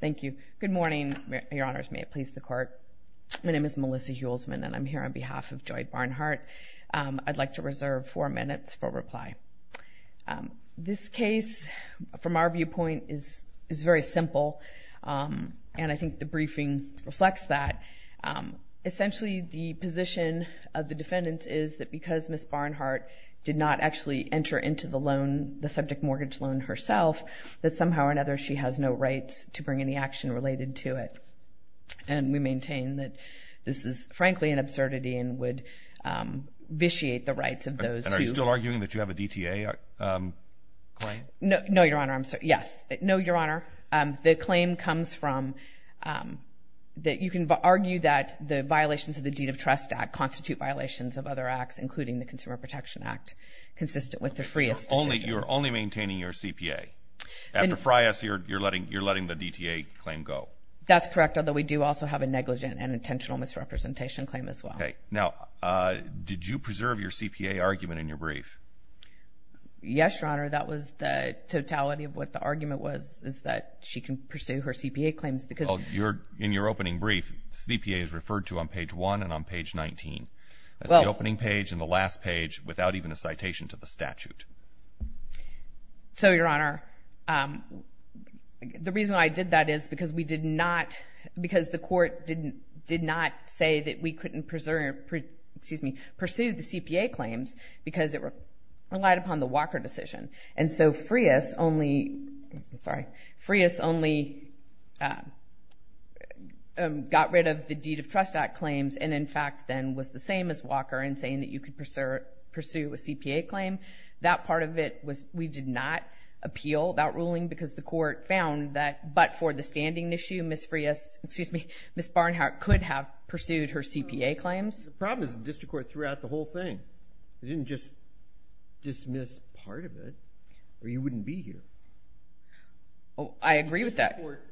Thank you. Good morning, Your Honors. May it please the Court. My name is Melissa Heuelsman and I'm here on behalf of Joy Barnhart. I'd like to reserve four minutes for reply. This case, from our viewpoint, is very simple and I think the briefing reflects that. Essentially the position of the defendant is that because Ms. Barnhart did not actually enter into the related to it. And we maintain that this is, frankly, an absurdity and would vitiate the rights of those who... And are you still arguing that you have a DTA claim? No, Your Honor. I'm sorry. Yes. No, Your Honor. The claim comes from that you can argue that the violations of the Deed of Trust Act constitute violations of other acts, including the Consumer Protection Act, consistent with the Freas decision. You're only maintaining your CPA. After Freas, you're letting the DTA claim go. That's correct, although we do also have a negligent and intentional misrepresentation claim as well. Okay. Now, did you preserve your CPA argument in your brief? Yes, Your Honor. That was the totality of what the argument was, is that she can pursue her CPA claims because... In your opening brief, CPA is referred to on page one and on page 19. That's the opening page and the last page without even a citation to the statute. So, Your Honor, the reason why I did that is because we did not... Because the court did not say that we couldn't pursue the CPA claims because it relied upon the Walker decision. And so Freas only... Sorry. Freas only got rid of the Deed of Trust Act claims and, in fact, then was the same as Walker in saying that you could pursue a CPA claim. That part of it was... We did not appeal that ruling because the court found that... But for the standing issue, Ms. Freas... Excuse me. Ms. Barnhart could have pursued her CPA claims. The problem is the district court threw out the whole thing. They didn't just dismiss part of it or you wouldn't be here. I agree with that. The court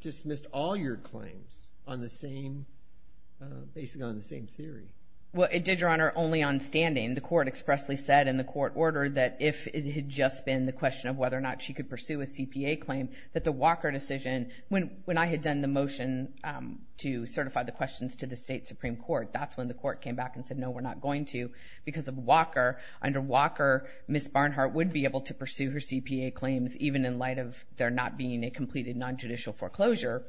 dismissed all your claims on the same... Basically on the same theory. Well, it did, Your Honor, only on standing. The court expressly said in the court order that if it had just been the question of whether or not she could pursue a CPA claim, that the Walker decision... When I had done the motion to certify the questions to the state Supreme Court, that's when the court came back and said, no, we're not going to because of Walker. Under Walker, Ms. Barnhart would be able to pursue her CPA claims even in light of there not being a completed non-judicial foreclosure,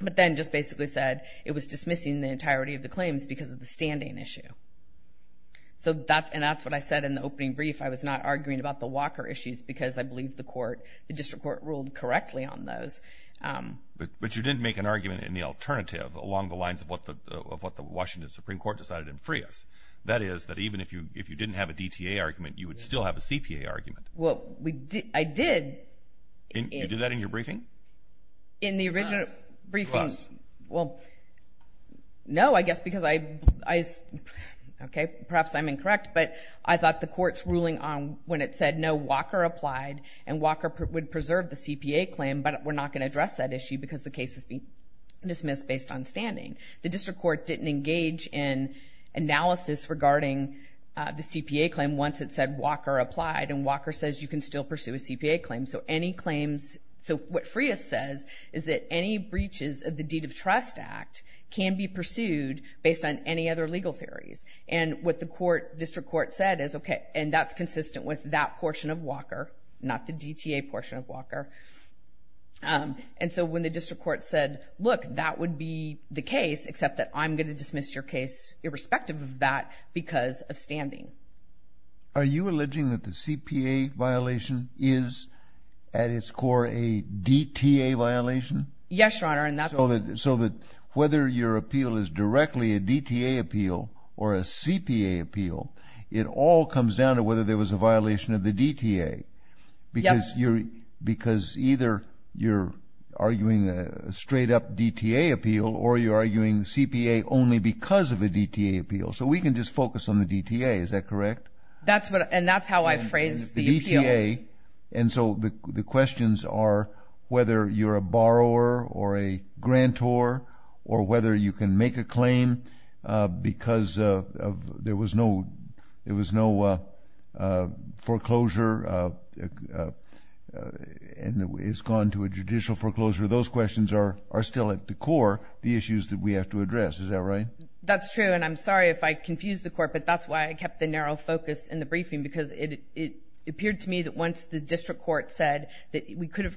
but then just basically said it was dismissing the entirety of the claims because of the standing issue. And that's what I said in the opening brief. I was not arguing about the Walker issues because I believe the district court ruled correctly on those. But you didn't make an argument in the alternative along the lines of what the Washington Supreme Court decided in Freas. That is, that even if you didn't have a DTA argument, you would still have a CPA argument. Well, I did. You did that in your briefing? In the original briefing. Plus. Well, no, I guess because I... Okay, perhaps I'm incorrect, but I thought the court's ruling on when it said no, Walker applied and Walker would preserve the CPA claim, but we're not going to address that issue because the case has been dismissed based on standing. The district court didn't engage in analysis regarding the CPA claim once it said Walker applied and Walker says you can still pursue a CPA claim. So any claims... So what Freas says is that any breaches of the Deed of Trust Act can be pursued based on any other legal theories. And what the court, district court said is, okay, and that's consistent with that portion of Walker, not the DTA portion of Walker. And so when the district court said, look, that would be the case, except that I'm going to dismiss your case irrespective of that because of standing. Are you alleging that the CPA violation is at its core a DTA violation? Yes, Your Honor. And that's... So that whether your appeal is directly a DTA appeal or a CPA appeal, it all comes down to whether there was a violation of the DTA because either you're arguing a straight up DTA appeal or you're arguing CPA only because of a DTA appeal. So we can just focus on the DTA. Is that correct? And that's how I phrased the appeal. The DTA. And so the questions are whether you're a borrower or a grantor or whether you can make a claim because there was no foreclosure and it's gone to a judicial foreclosure. Those questions are still at the core, the issues that we have to address. Is that right? That's true. And I'm sorry if I confused the court, but that's why I kept the narrow focus in the briefing because it appeared to me that once the district court said that we could have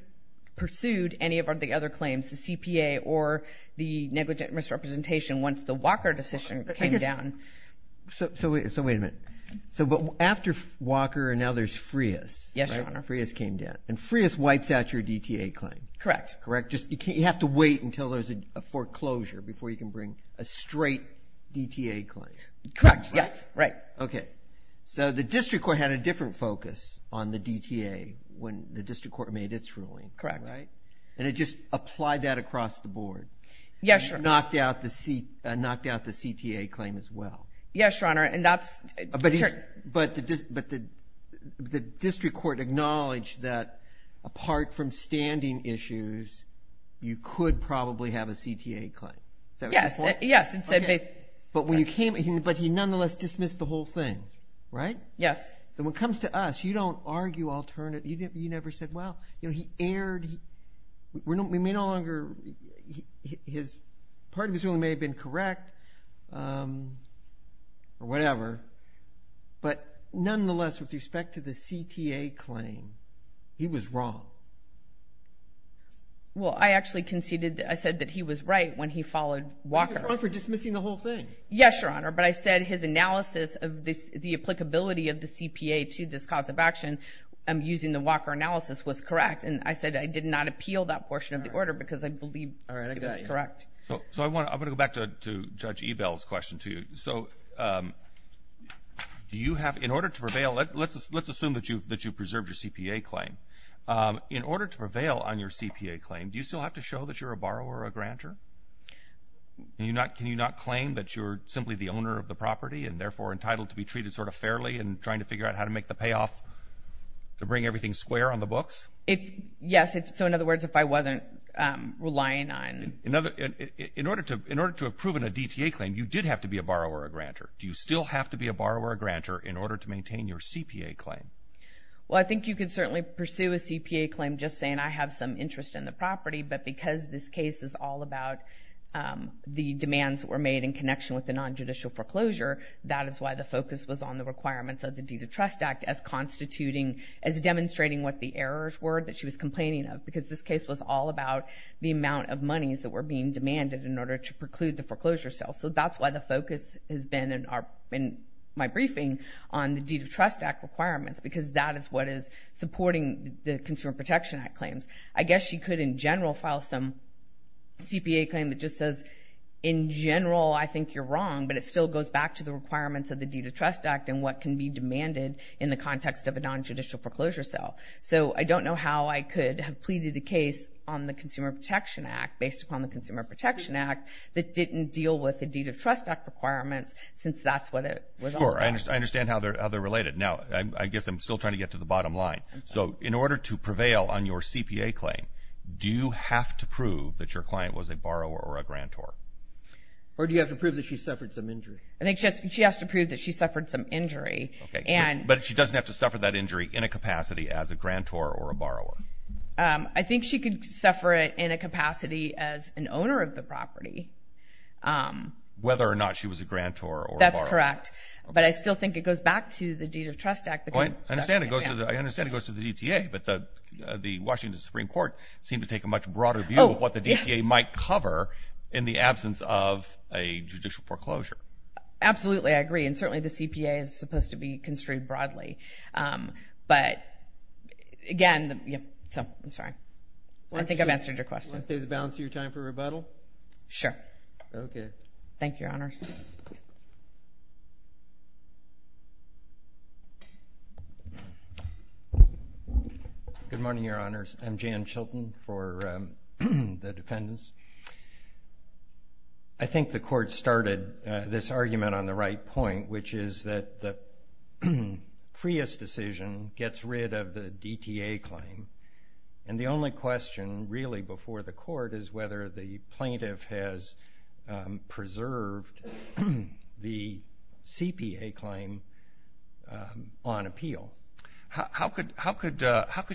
pursued any of the other claims, the CPA or the negligent misrepresentation once the Walker decision came down. So wait a minute. So after Walker and now there's Frias. Yes, Your Honor. Frias came down. And Frias wipes out your DTA claim. Correct. Correct. You have to wait until there's a foreclosure before you can bring a straight DTA claim. Correct. Yes. Right. Okay. So the district court had a different focus on the DTA when the district court made its ruling. Correct. And it just applied that across the board. Yes, Your Honor. Knocked out the CTA claim as well. Yes, Your Honor. But the district court acknowledged that apart from standing issues, you could probably have a CTA claim. Yes. But he nonetheless dismissed the whole thing, right? Yes. So when it comes to us, you don't argue alternative. You never said, well, you know, he erred. We may no longer, part of his ruling may have been correct or whatever, but nonetheless with respect to the CTA claim, he was wrong. Well, I actually conceded, I said that he was right when he followed Walker. He was wrong for dismissing the whole thing. Yes, Your Honor. But I said his analysis of the applicability of the CPA to this cause of action using the Walker analysis was correct. And I said I did not appeal that portion of the order because I believe it was correct. So I want to go back to Judge Ebel's question to you. So do you have, in order to prevail, let's assume that you preserved your CPA claim. In order to prevail on your CPA claim, do you still have to show that you're a borrower or a grantor? Can you not claim that you're simply the owner of the property and therefore entitled to be treated sort of fairly and trying to figure out how to make the payoff to bring everything square on the books? Yes. So in other words, if I wasn't relying on In order to have proven a DTA claim, you did have to be a borrower or a grantor. Do you still have to be a borrower or a grantor in order to maintain your CPA claim? Well, I think you could certainly pursue a CPA claim just saying I have some interest in the property. But because this case is all about the demands that were made in connection with the nonjudicial foreclosure, that is why the focus was on the requirements of the deed of trust act as constituting, as demonstrating what the errors were that she was complaining of because this case was all about the amount of monies that were being demanded in order to preclude the foreclosure sale. So that's why the focus has been in my briefing on the deed of trust act requirements because that is what is supporting the Consumer Protection Act claims. I guess you could in general file some CPA claim that just says in general I think you're wrong, but it still goes back to the requirements of the deed of trust act and what can be demanded in the context of a nonjudicial foreclosure sale. So I don't know how I could have pleaded a case on the Consumer Protection Act based upon the Consumer Protection Act that didn't deal with the deed of trust act requirements since that's what it was all about. Sure. I understand how they're related. Now, I guess I'm still trying to get to the bottom line. So in order to prevail on your CPA claim, do you have to prove that your client was a borrower or a grantor? Or do you have to prove that she suffered some injury? I think she has to prove that she suffered some injury. But she doesn't have to suffer that injury in a capacity as a grantor or a borrower. I think she could suffer it in a capacity as an owner of the property. Whether or not she was a grantor or a borrower. That's correct. But I still think it goes back to the deed of trust act. I understand it goes to the DTA, but the Washington Supreme Court seemed to take a much broader view of what the DTA might cover in the absence of a judicial foreclosure. Absolutely, I agree. And certainly the CPA is supposed to be construed broadly. But again, I'm sorry. I think I've answered your question. Do you want to save the balance of your time for rebuttal? Okay. Thank you, Your Honors. Good morning, Your Honors. I'm Jan Chilton for the defendants. I think the court started this argument on the right point, which is that the Frias decision gets rid of the DTA claim. And the only question really before the court is whether the plaintiff has preserved the CPA claim on appeal. How could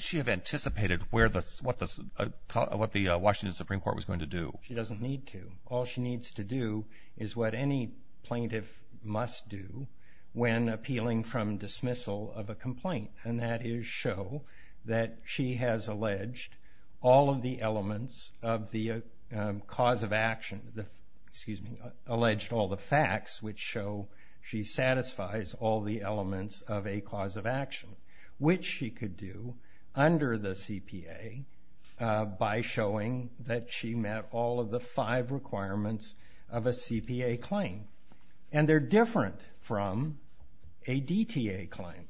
she have anticipated what the Washington Supreme Court was going to do? She doesn't need to. All she needs to do is what any plaintiff must do when appealing from dismissal of a complaint, and that is show that she has alleged all of the elements of the cause of action alleged all the facts which show she satisfies all the elements of a cause of action, which she could do under the CPA by showing that she met all of the five requirements of a CPA claim. And they're different from a DTA claim.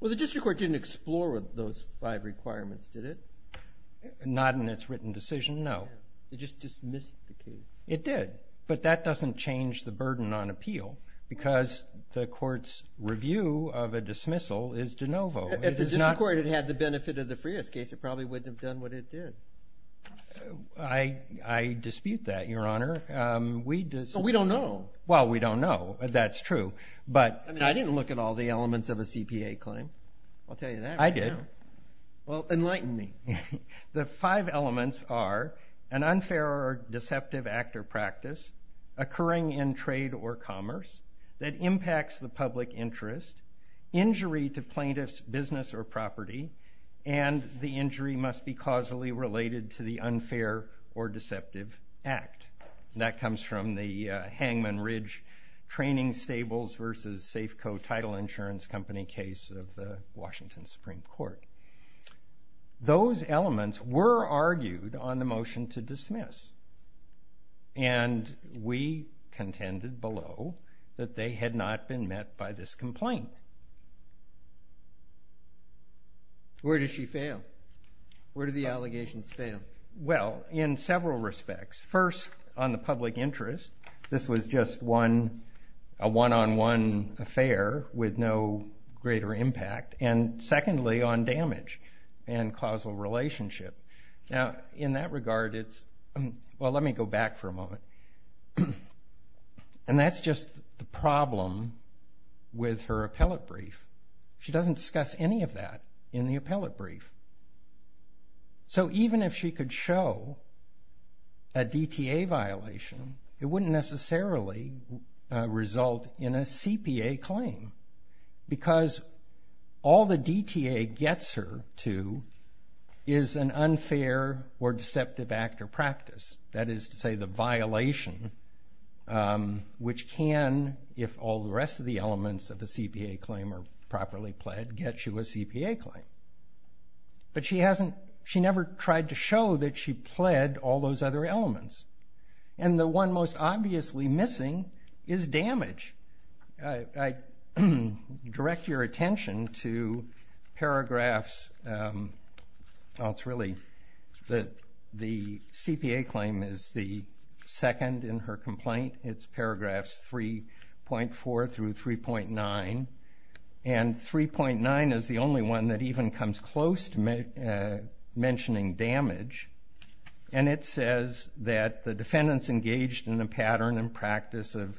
Well, the district court didn't explore those five requirements, did it? Not in its written decision, no. It just dismissed the case. It did. But that doesn't change the burden on appeal because the court's review of a dismissal is de novo. If the district court had had the benefit of the Frias case, it probably wouldn't have done what it did. I dispute that, Your Honor. We don't know. Well, we don't know. That's true. I mean, I didn't look at all the elements of a CPA claim. I'll tell you that right now. I did. Well, enlighten me. The five elements are an unfair or deceptive act or practice occurring in trade or commerce that impacts the public interest, injury to plaintiff's business or property, and the injury must be causally related to the unfair or deceptive act. And that comes from the Hangman Ridge Training Stables versus Safeco Title Insurance Company case of the Washington Supreme Court. Those elements were argued on the motion to dismiss. And we contended below that they had not been met by this complaint. Where did she fail? Where did the allegations fail? Well, in several respects. First, on the public interest, this was just a one-on-one affair with no greater impact. And secondly, on damage and causal relationship. Now, in that regard, it's... Well, let me go back for a moment. And that's just the problem with her appellate brief. She doesn't discuss any of that in the appellate brief. So even if she could show a DTA violation, it wouldn't necessarily result in a CPA claim because all the DTA gets her to is an unfair or deceptive act or practice. That is to say the violation which can, if all the rest of the elements of the CPA claim are properly pled, get you a CPA claim. But she never tried to show that she pled all those other elements. And the one most obviously missing is damage. I direct your attention to paragraphs. Well, it's really that the CPA claim is the second in her complaint. It's paragraphs 3.4 through 3.9. And 3.9 is the only one that even comes close to mentioning damage. And it says that the defendants engaged in a pattern and practice of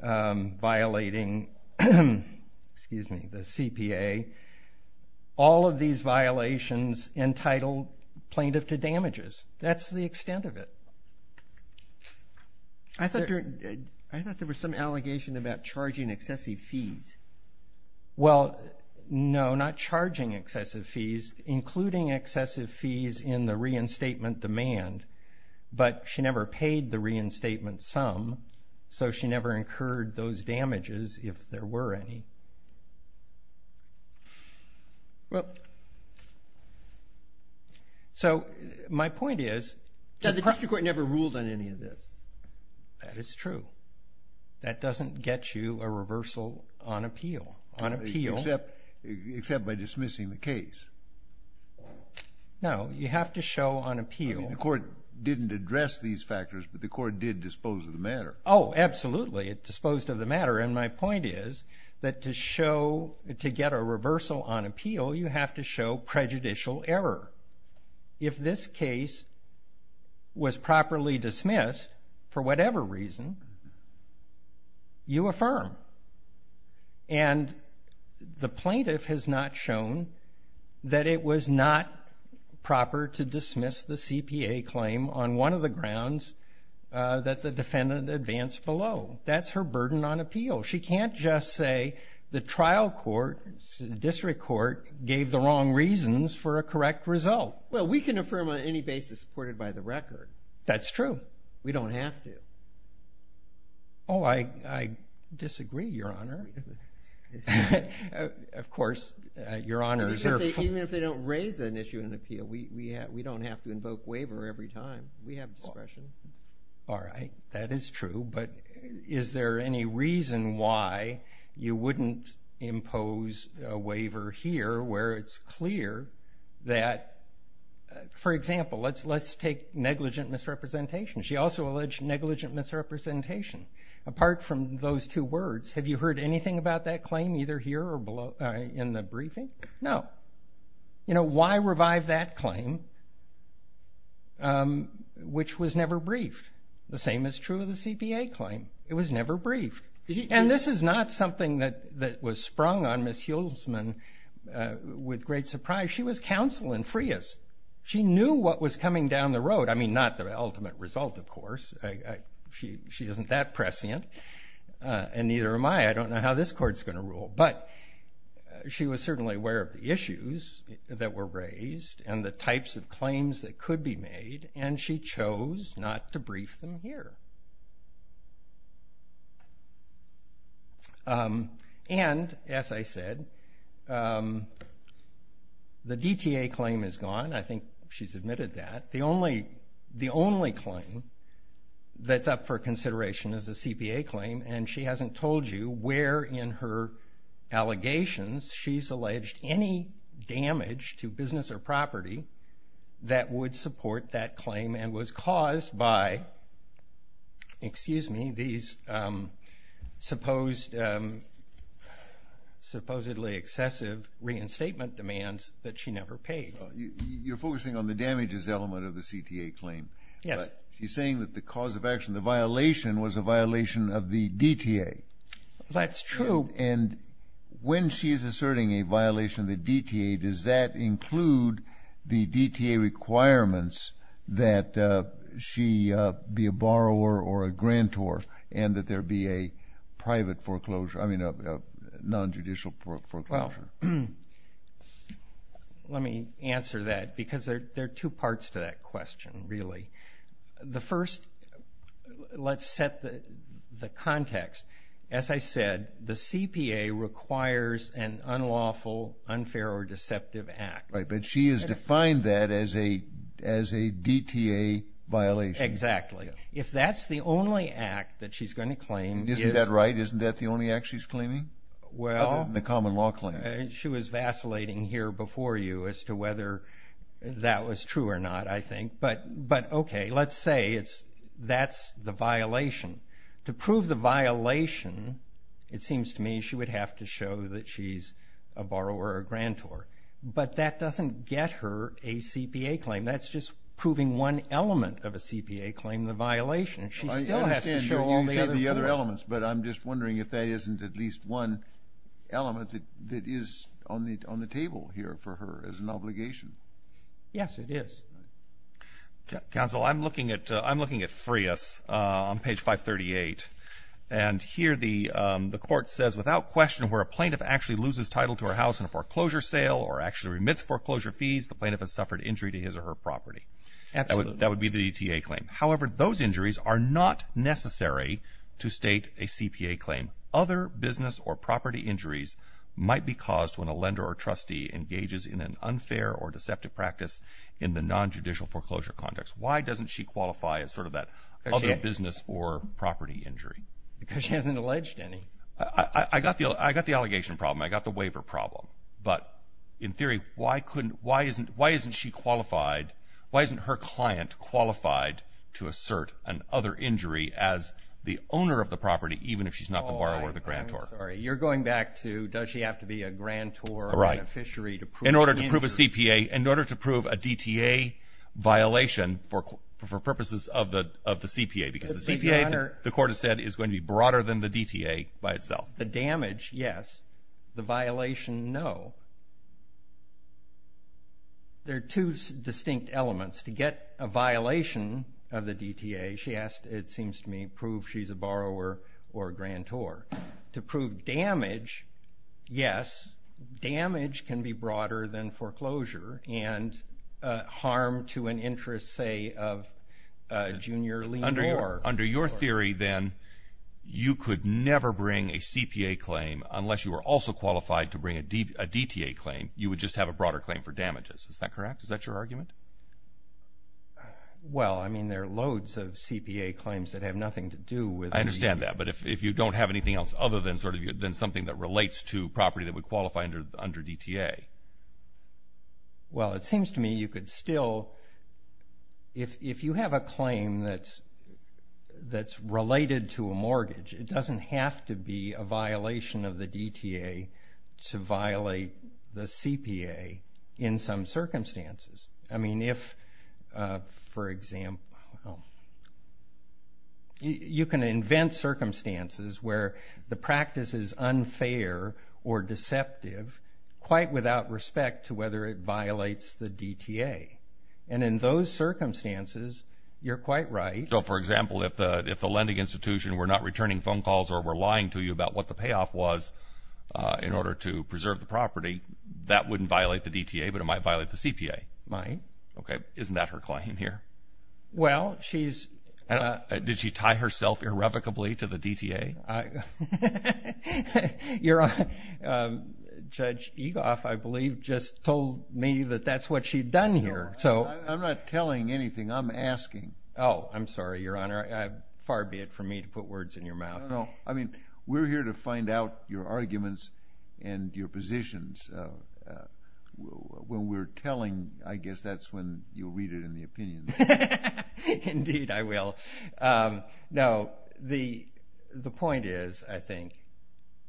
violating the CPA, all of these violations entitled plaintiff to damages. That's the extent of it. I thought there was some allegation about charging excessive fees. Well, no, not charging excessive fees, including excessive fees in the reinstatement demand. But she never paid the reinstatement sum, so she never incurred those damages if there were any. Well, so my point is that the district court never ruled on any of this. That is true. That doesn't get you a reversal on appeal. Except by dismissing the case. No, you have to show on appeal. The court didn't address these factors, but the court did dispose of the matter. Oh, absolutely, it disposed of the matter. And my point is that to get a reversal on appeal, you have to show prejudicial error. If this case was properly dismissed for whatever reason, you affirm. And the plaintiff has not shown that it was not proper to dismiss the CPA claim on one of the grounds that the defendant advanced below. That's her burden on appeal. She can't just say the trial court, the district court, gave the wrong reasons for a correct result. Well, we can affirm on any basis supported by the record. That's true. We don't have to. Oh, I disagree, Your Honor. Of course, Your Honor. Even if they don't raise an issue on appeal, we don't have to invoke waiver every time. We have discretion. All right, that is true. But is there any reason why you wouldn't impose a waiver here where it's clear that, for example, let's take negligent misrepresentation. She also alleged negligent misrepresentation. Apart from those two words, have you heard anything about that claim either here or in the briefing? No. You know, why revive that claim, which was never briefed? The same is true of the CPA claim. It was never briefed. And this is not something that was sprung on Ms. Hulsman with great surprise. She was counsel in Frias. She knew what was coming down the road. I mean, not the ultimate result, of course. She isn't that prescient, and neither am I. I don't know how this court is going to rule. But she was certainly aware of the issues that were raised and the types of claims that could be made, and she chose not to brief them here. And, as I said, the DTA claim is gone. I think she's admitted that. The only claim that's up for consideration is the CPA claim, and she hasn't told you where in her allegations she's alleged any damage to business or property that would support that claim and was caused by, excuse me, these supposedly excessive reinstatement demands that she never paid. You're focusing on the damages element of the CTA claim. Yes. She's saying that the cause of action, the violation, was a violation of the DTA. That's true. And when she's asserting a violation of the DTA, does that include the DTA requirements that she be a borrower or a grantor and that there be a private foreclosure, I mean a nonjudicial foreclosure? Well, let me answer that because there are two parts to that question, really. The first, let's set the context. As I said, the CPA requires an unlawful, unfair, or deceptive act. Right, but she has defined that as a DTA violation. Exactly. If that's the only act that she's going to claim... Isn't that right? Isn't that the only act she's claiming? Well... Other than the common law claim. She was vacillating here before you as to whether that was true or not, I think. But, okay, let's say that's the violation. To prove the violation, it seems to me, she would have to show that she's a borrower or a grantor. But that doesn't get her a CPA claim. That's just proving one element of a CPA claim, the violation. She still has to show all the other elements. But I'm just wondering if that isn't at least one element that is on the table here for her as an obligation. Yes, it is. Counsel, I'm looking at Freas on page 538. And here the court says, without question where a plaintiff actually loses title to her house in a foreclosure sale or actually remits foreclosure fees, the plaintiff has suffered injury to his or her property. Absolutely. That would be the DTA claim. However, those injuries are not necessary to state a CPA claim. Other business or property injuries might be caused when a lender or trustee engages in an unfair or deceptive practice in the nonjudicial foreclosure context. Why doesn't she qualify as sort of that other business or property injury? Because she hasn't alleged any. I got the allegation problem. I got the waiver problem. But in theory, why isn't she qualified, why isn't her client qualified to assert an other injury as the owner of the property even if she's not the borrower or the grantor? Oh, I'm sorry. You're going back to does she have to be a grantor or a beneficiary to prove an injury? In order to prove a DTA violation for purposes of the CPA because the CPA, the court has said, is going to be broader than the DTA by itself. The damage, yes. The violation, no. There are two distinct elements. To get a violation of the DTA, she asked, it seems to me, prove she's a borrower or a grantor. To prove damage, yes. Damage can be broader than foreclosure and harm to an interest, say, of a junior lien borrower. Under your theory, then, you could never bring a CPA claim unless you were also qualified to bring a DTA claim. You would just have a broader claim for damages. Is that correct? Is that your argument? Well, I mean, there are loads of CPA claims that have nothing to do with the… I understand that. But if you don't have anything else other than something that relates to property that would qualify under DTA? Well, it seems to me you could still, if you have a claim that's related to a mortgage, it doesn't have to be a violation of the DTA to violate the CPA in some circumstances. I mean, if, for example, you can invent circumstances where the practice is unfair or deceptive quite without respect to whether it violates the DTA. And in those circumstances, you're quite right. So, for example, if the lending institution were not returning phone calls or were lying to you about what the payoff was in order to preserve the property, that wouldn't violate the DTA, but it might violate the CPA. It might. Okay. Isn't that her claim here? Well, she's… Did she tie herself irrevocably to the DTA? Your Honor, Judge Egoff, I believe, just told me that that's what she'd done here. I'm not telling anything. I'm asking. Oh, I'm sorry, Your Honor. Far be it from me to put words in your mouth. No, no, no. I mean, we're here to find out your arguments and your positions. When we're telling, I guess that's when you'll read it in the opinion. Indeed, I will. Now, the point is, I think,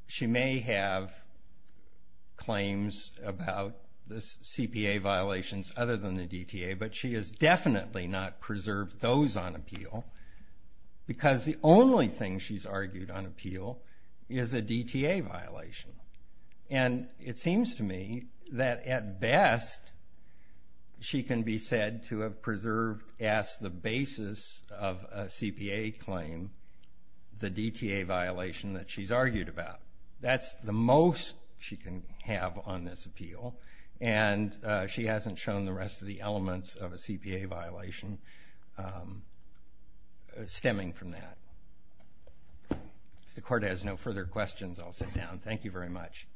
she may have claims about the CPA violations other than the DTA, but she has definitely not preserved those on appeal because the only thing she's argued on appeal is a DTA violation, and it seems to me that, at best, she can be said to have preserved as the basis of a CPA claim the DTA violation that she's argued about. That's the most she can have on this appeal, and she hasn't shown the rest of the elements of a CPA violation stemming from that. If the Court has no further questions, I'll sit down. Thank you very much.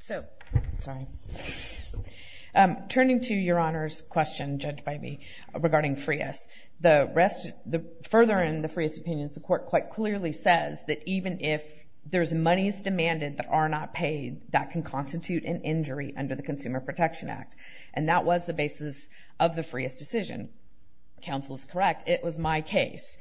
So, turning to Your Honor's question, judged by me, regarding FRIAS, further in the FRIAS opinion, the Court quite clearly says that even if there's monies demanded that are not paid, that can constitute an injury under the Consumer Protection Act, and that was the basis of the FRIAS decision. Counsel is correct. It was my case.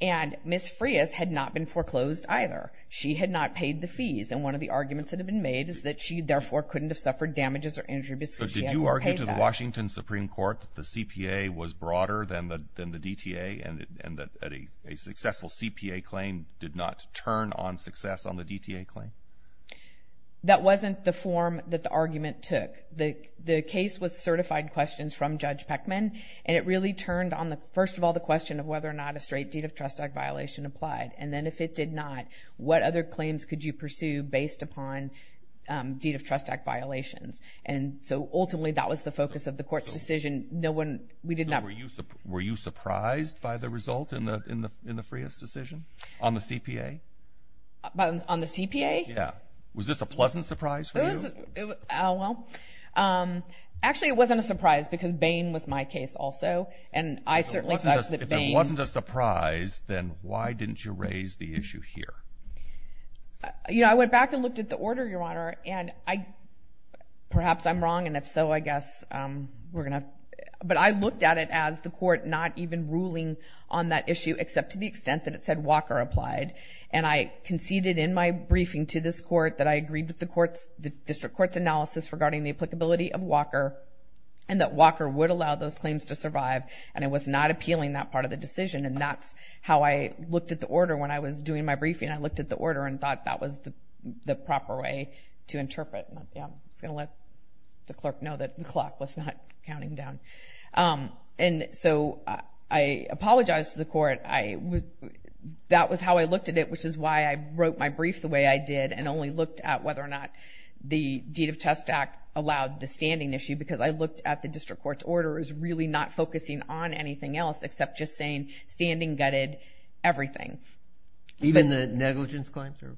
And Ms. FRIAS had not been foreclosed either. She had not paid the fees, and one of the arguments that have been made is that she, therefore, couldn't have suffered damages or injuries because she hadn't paid that. Did you tell the Washington Supreme Court that the CPA was broader than the DTA and that a successful CPA claim did not turn on success on the DTA claim? That wasn't the form that the argument took. The case was certified questions from Judge Peckman, and it really turned on, first of all, the question of whether or not a straight Deed of Trust Act violation applied, and then if it did not, what other claims could you pursue based upon Deed of Trust Act violations? And so ultimately that was the focus of the court's decision. Were you surprised by the result in the FRIAS decision on the CPA? On the CPA? Yeah. Was this a pleasant surprise for you? Well, actually it wasn't a surprise because Bain was my case also, and I certainly thought that Bain— If it wasn't a surprise, then why didn't you raise the issue here? You know, I went back and looked at the order, Your Honor, and perhaps I'm wrong, and if so, I guess we're going to— but I looked at it as the court not even ruling on that issue except to the extent that it said Walker applied, and I conceded in my briefing to this court that I agreed with the court's— the district court's analysis regarding the applicability of Walker and that Walker would allow those claims to survive, and it was not appealing, that part of the decision, and that's how I looked at the order when I was doing my briefing. I looked at the order and thought that was the proper way to interpret. Yeah, I'm just going to let the clerk know that the clock was not counting down. And so I apologized to the court. That was how I looked at it, which is why I wrote my brief the way I did and only looked at whether or not the Deed of Test Act allowed the standing issue because I looked at the district court's order as really not focusing on anything else except just saying standing gutted everything. Even the negligence claims or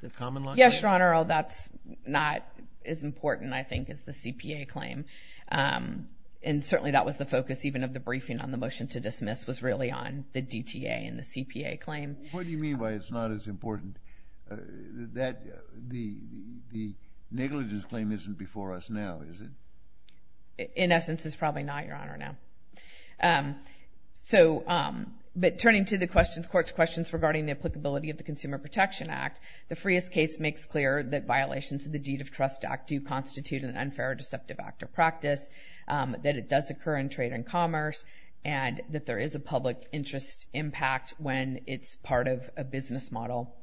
the common law claims? Yes, Your Honor, that's not as important, I think, as the CPA claim, and certainly that was the focus even of the briefing on the motion to dismiss was really on the DTA and the CPA claim. What do you mean by it's not as important? The negligence claim isn't before us now, is it? In essence, it's probably not, Your Honor, now. But turning to the court's questions regarding the applicability of the Consumer Protection Act, the Freas case makes clear that violations of the Deed of Trust Act do constitute an unfair or deceptive act or practice, that it does occur in trade and commerce, and that there is a public interest impact when it's part of a business model.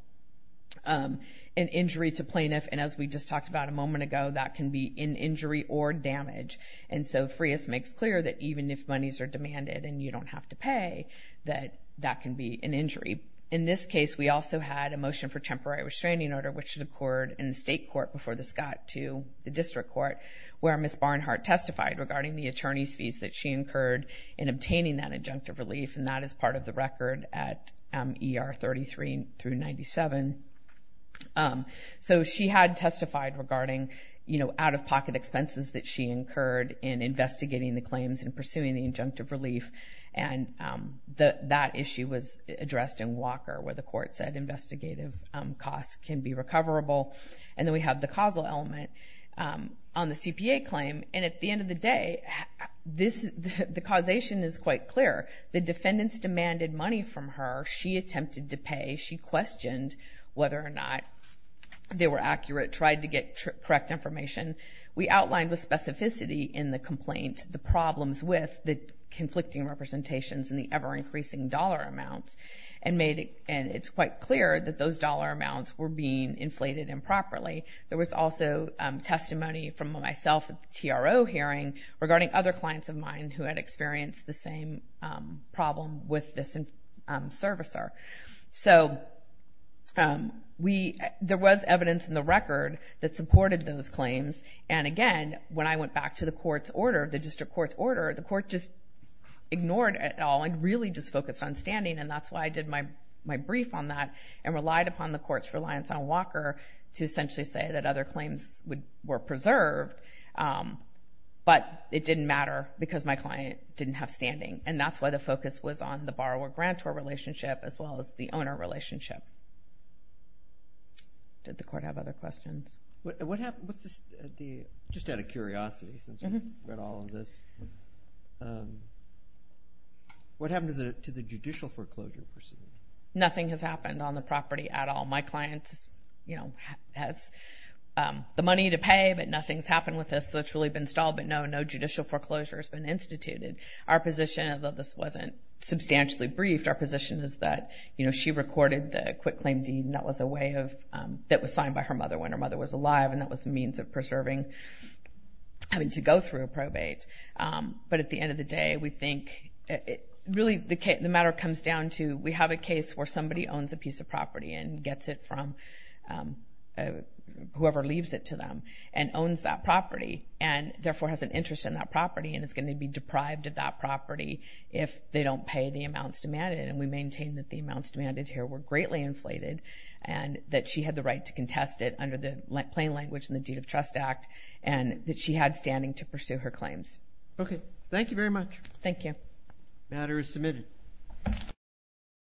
An injury to plaintiff, and as we just talked about a moment ago, that can be an injury or damage. And so Freas makes clear that even if monies are demanded and you don't have to pay, that that can be an injury. In this case, we also had a motion for temporary restraining order, which occurred in the state court before this got to the district court, where Ms. Barnhart testified regarding the attorney's fees that she incurred in obtaining that adjunctive relief, and that is part of the record at ER 33 through 97. So she had testified regarding out-of-pocket expenses that she incurred in investigating the claims and pursuing the adjunctive relief, and that issue was addressed in Walker, where the court said investigative costs can be recoverable. And then we have the causal element on the CPA claim, and at the end of the day, the causation is quite clear. The defendants demanded money from her. She attempted to pay. She questioned whether or not they were accurate, tried to get correct information. We outlined with specificity in the complaint the problems with the conflicting representations and the ever-increasing dollar amounts, and it's quite clear that those dollar amounts were being inflated improperly. There was also testimony from myself at the TRO hearing regarding other clients of mine who had experienced the same problem with this servicer. So there was evidence in the record that supported those claims, and again, when I went back to the court's order, the district court's order, the court just ignored it all and really just focused on standing, and that's why I did my brief on that and relied upon the court's reliance on Walker to essentially say that other claims were preserved, but it didn't matter because my client didn't have standing, and that's why the focus was on the borrower-grantor relationship as well as the owner relationship. Did the court have other questions? Just out of curiosity, since we've read all of this, what happened to the judicial foreclosure proceeding? Nothing has happened on the property at all. My client has the money to pay, but nothing's happened with this, so it's really been stalled, but no judicial foreclosure has been instituted. Our position, although this wasn't substantially briefed, our position is that she recorded the quick claim deed that was signed by her mother when her mother was alive, and that was a means of preserving having to go through a probate. But at the end of the day, we think really the matter comes down to we have a case where somebody owns a piece of property and gets it from whoever leaves it to them and owns that property and therefore has an interest in that property and is going to be deprived of that property if they don't pay the amounts demanded, and we maintain that the amounts demanded here were greatly inflated and that she had the right to contest it under the plain language in the Deed of Trust Act and that she had standing to pursue her claims. Okay. Thank you very much. Thank you. The matter is submitted.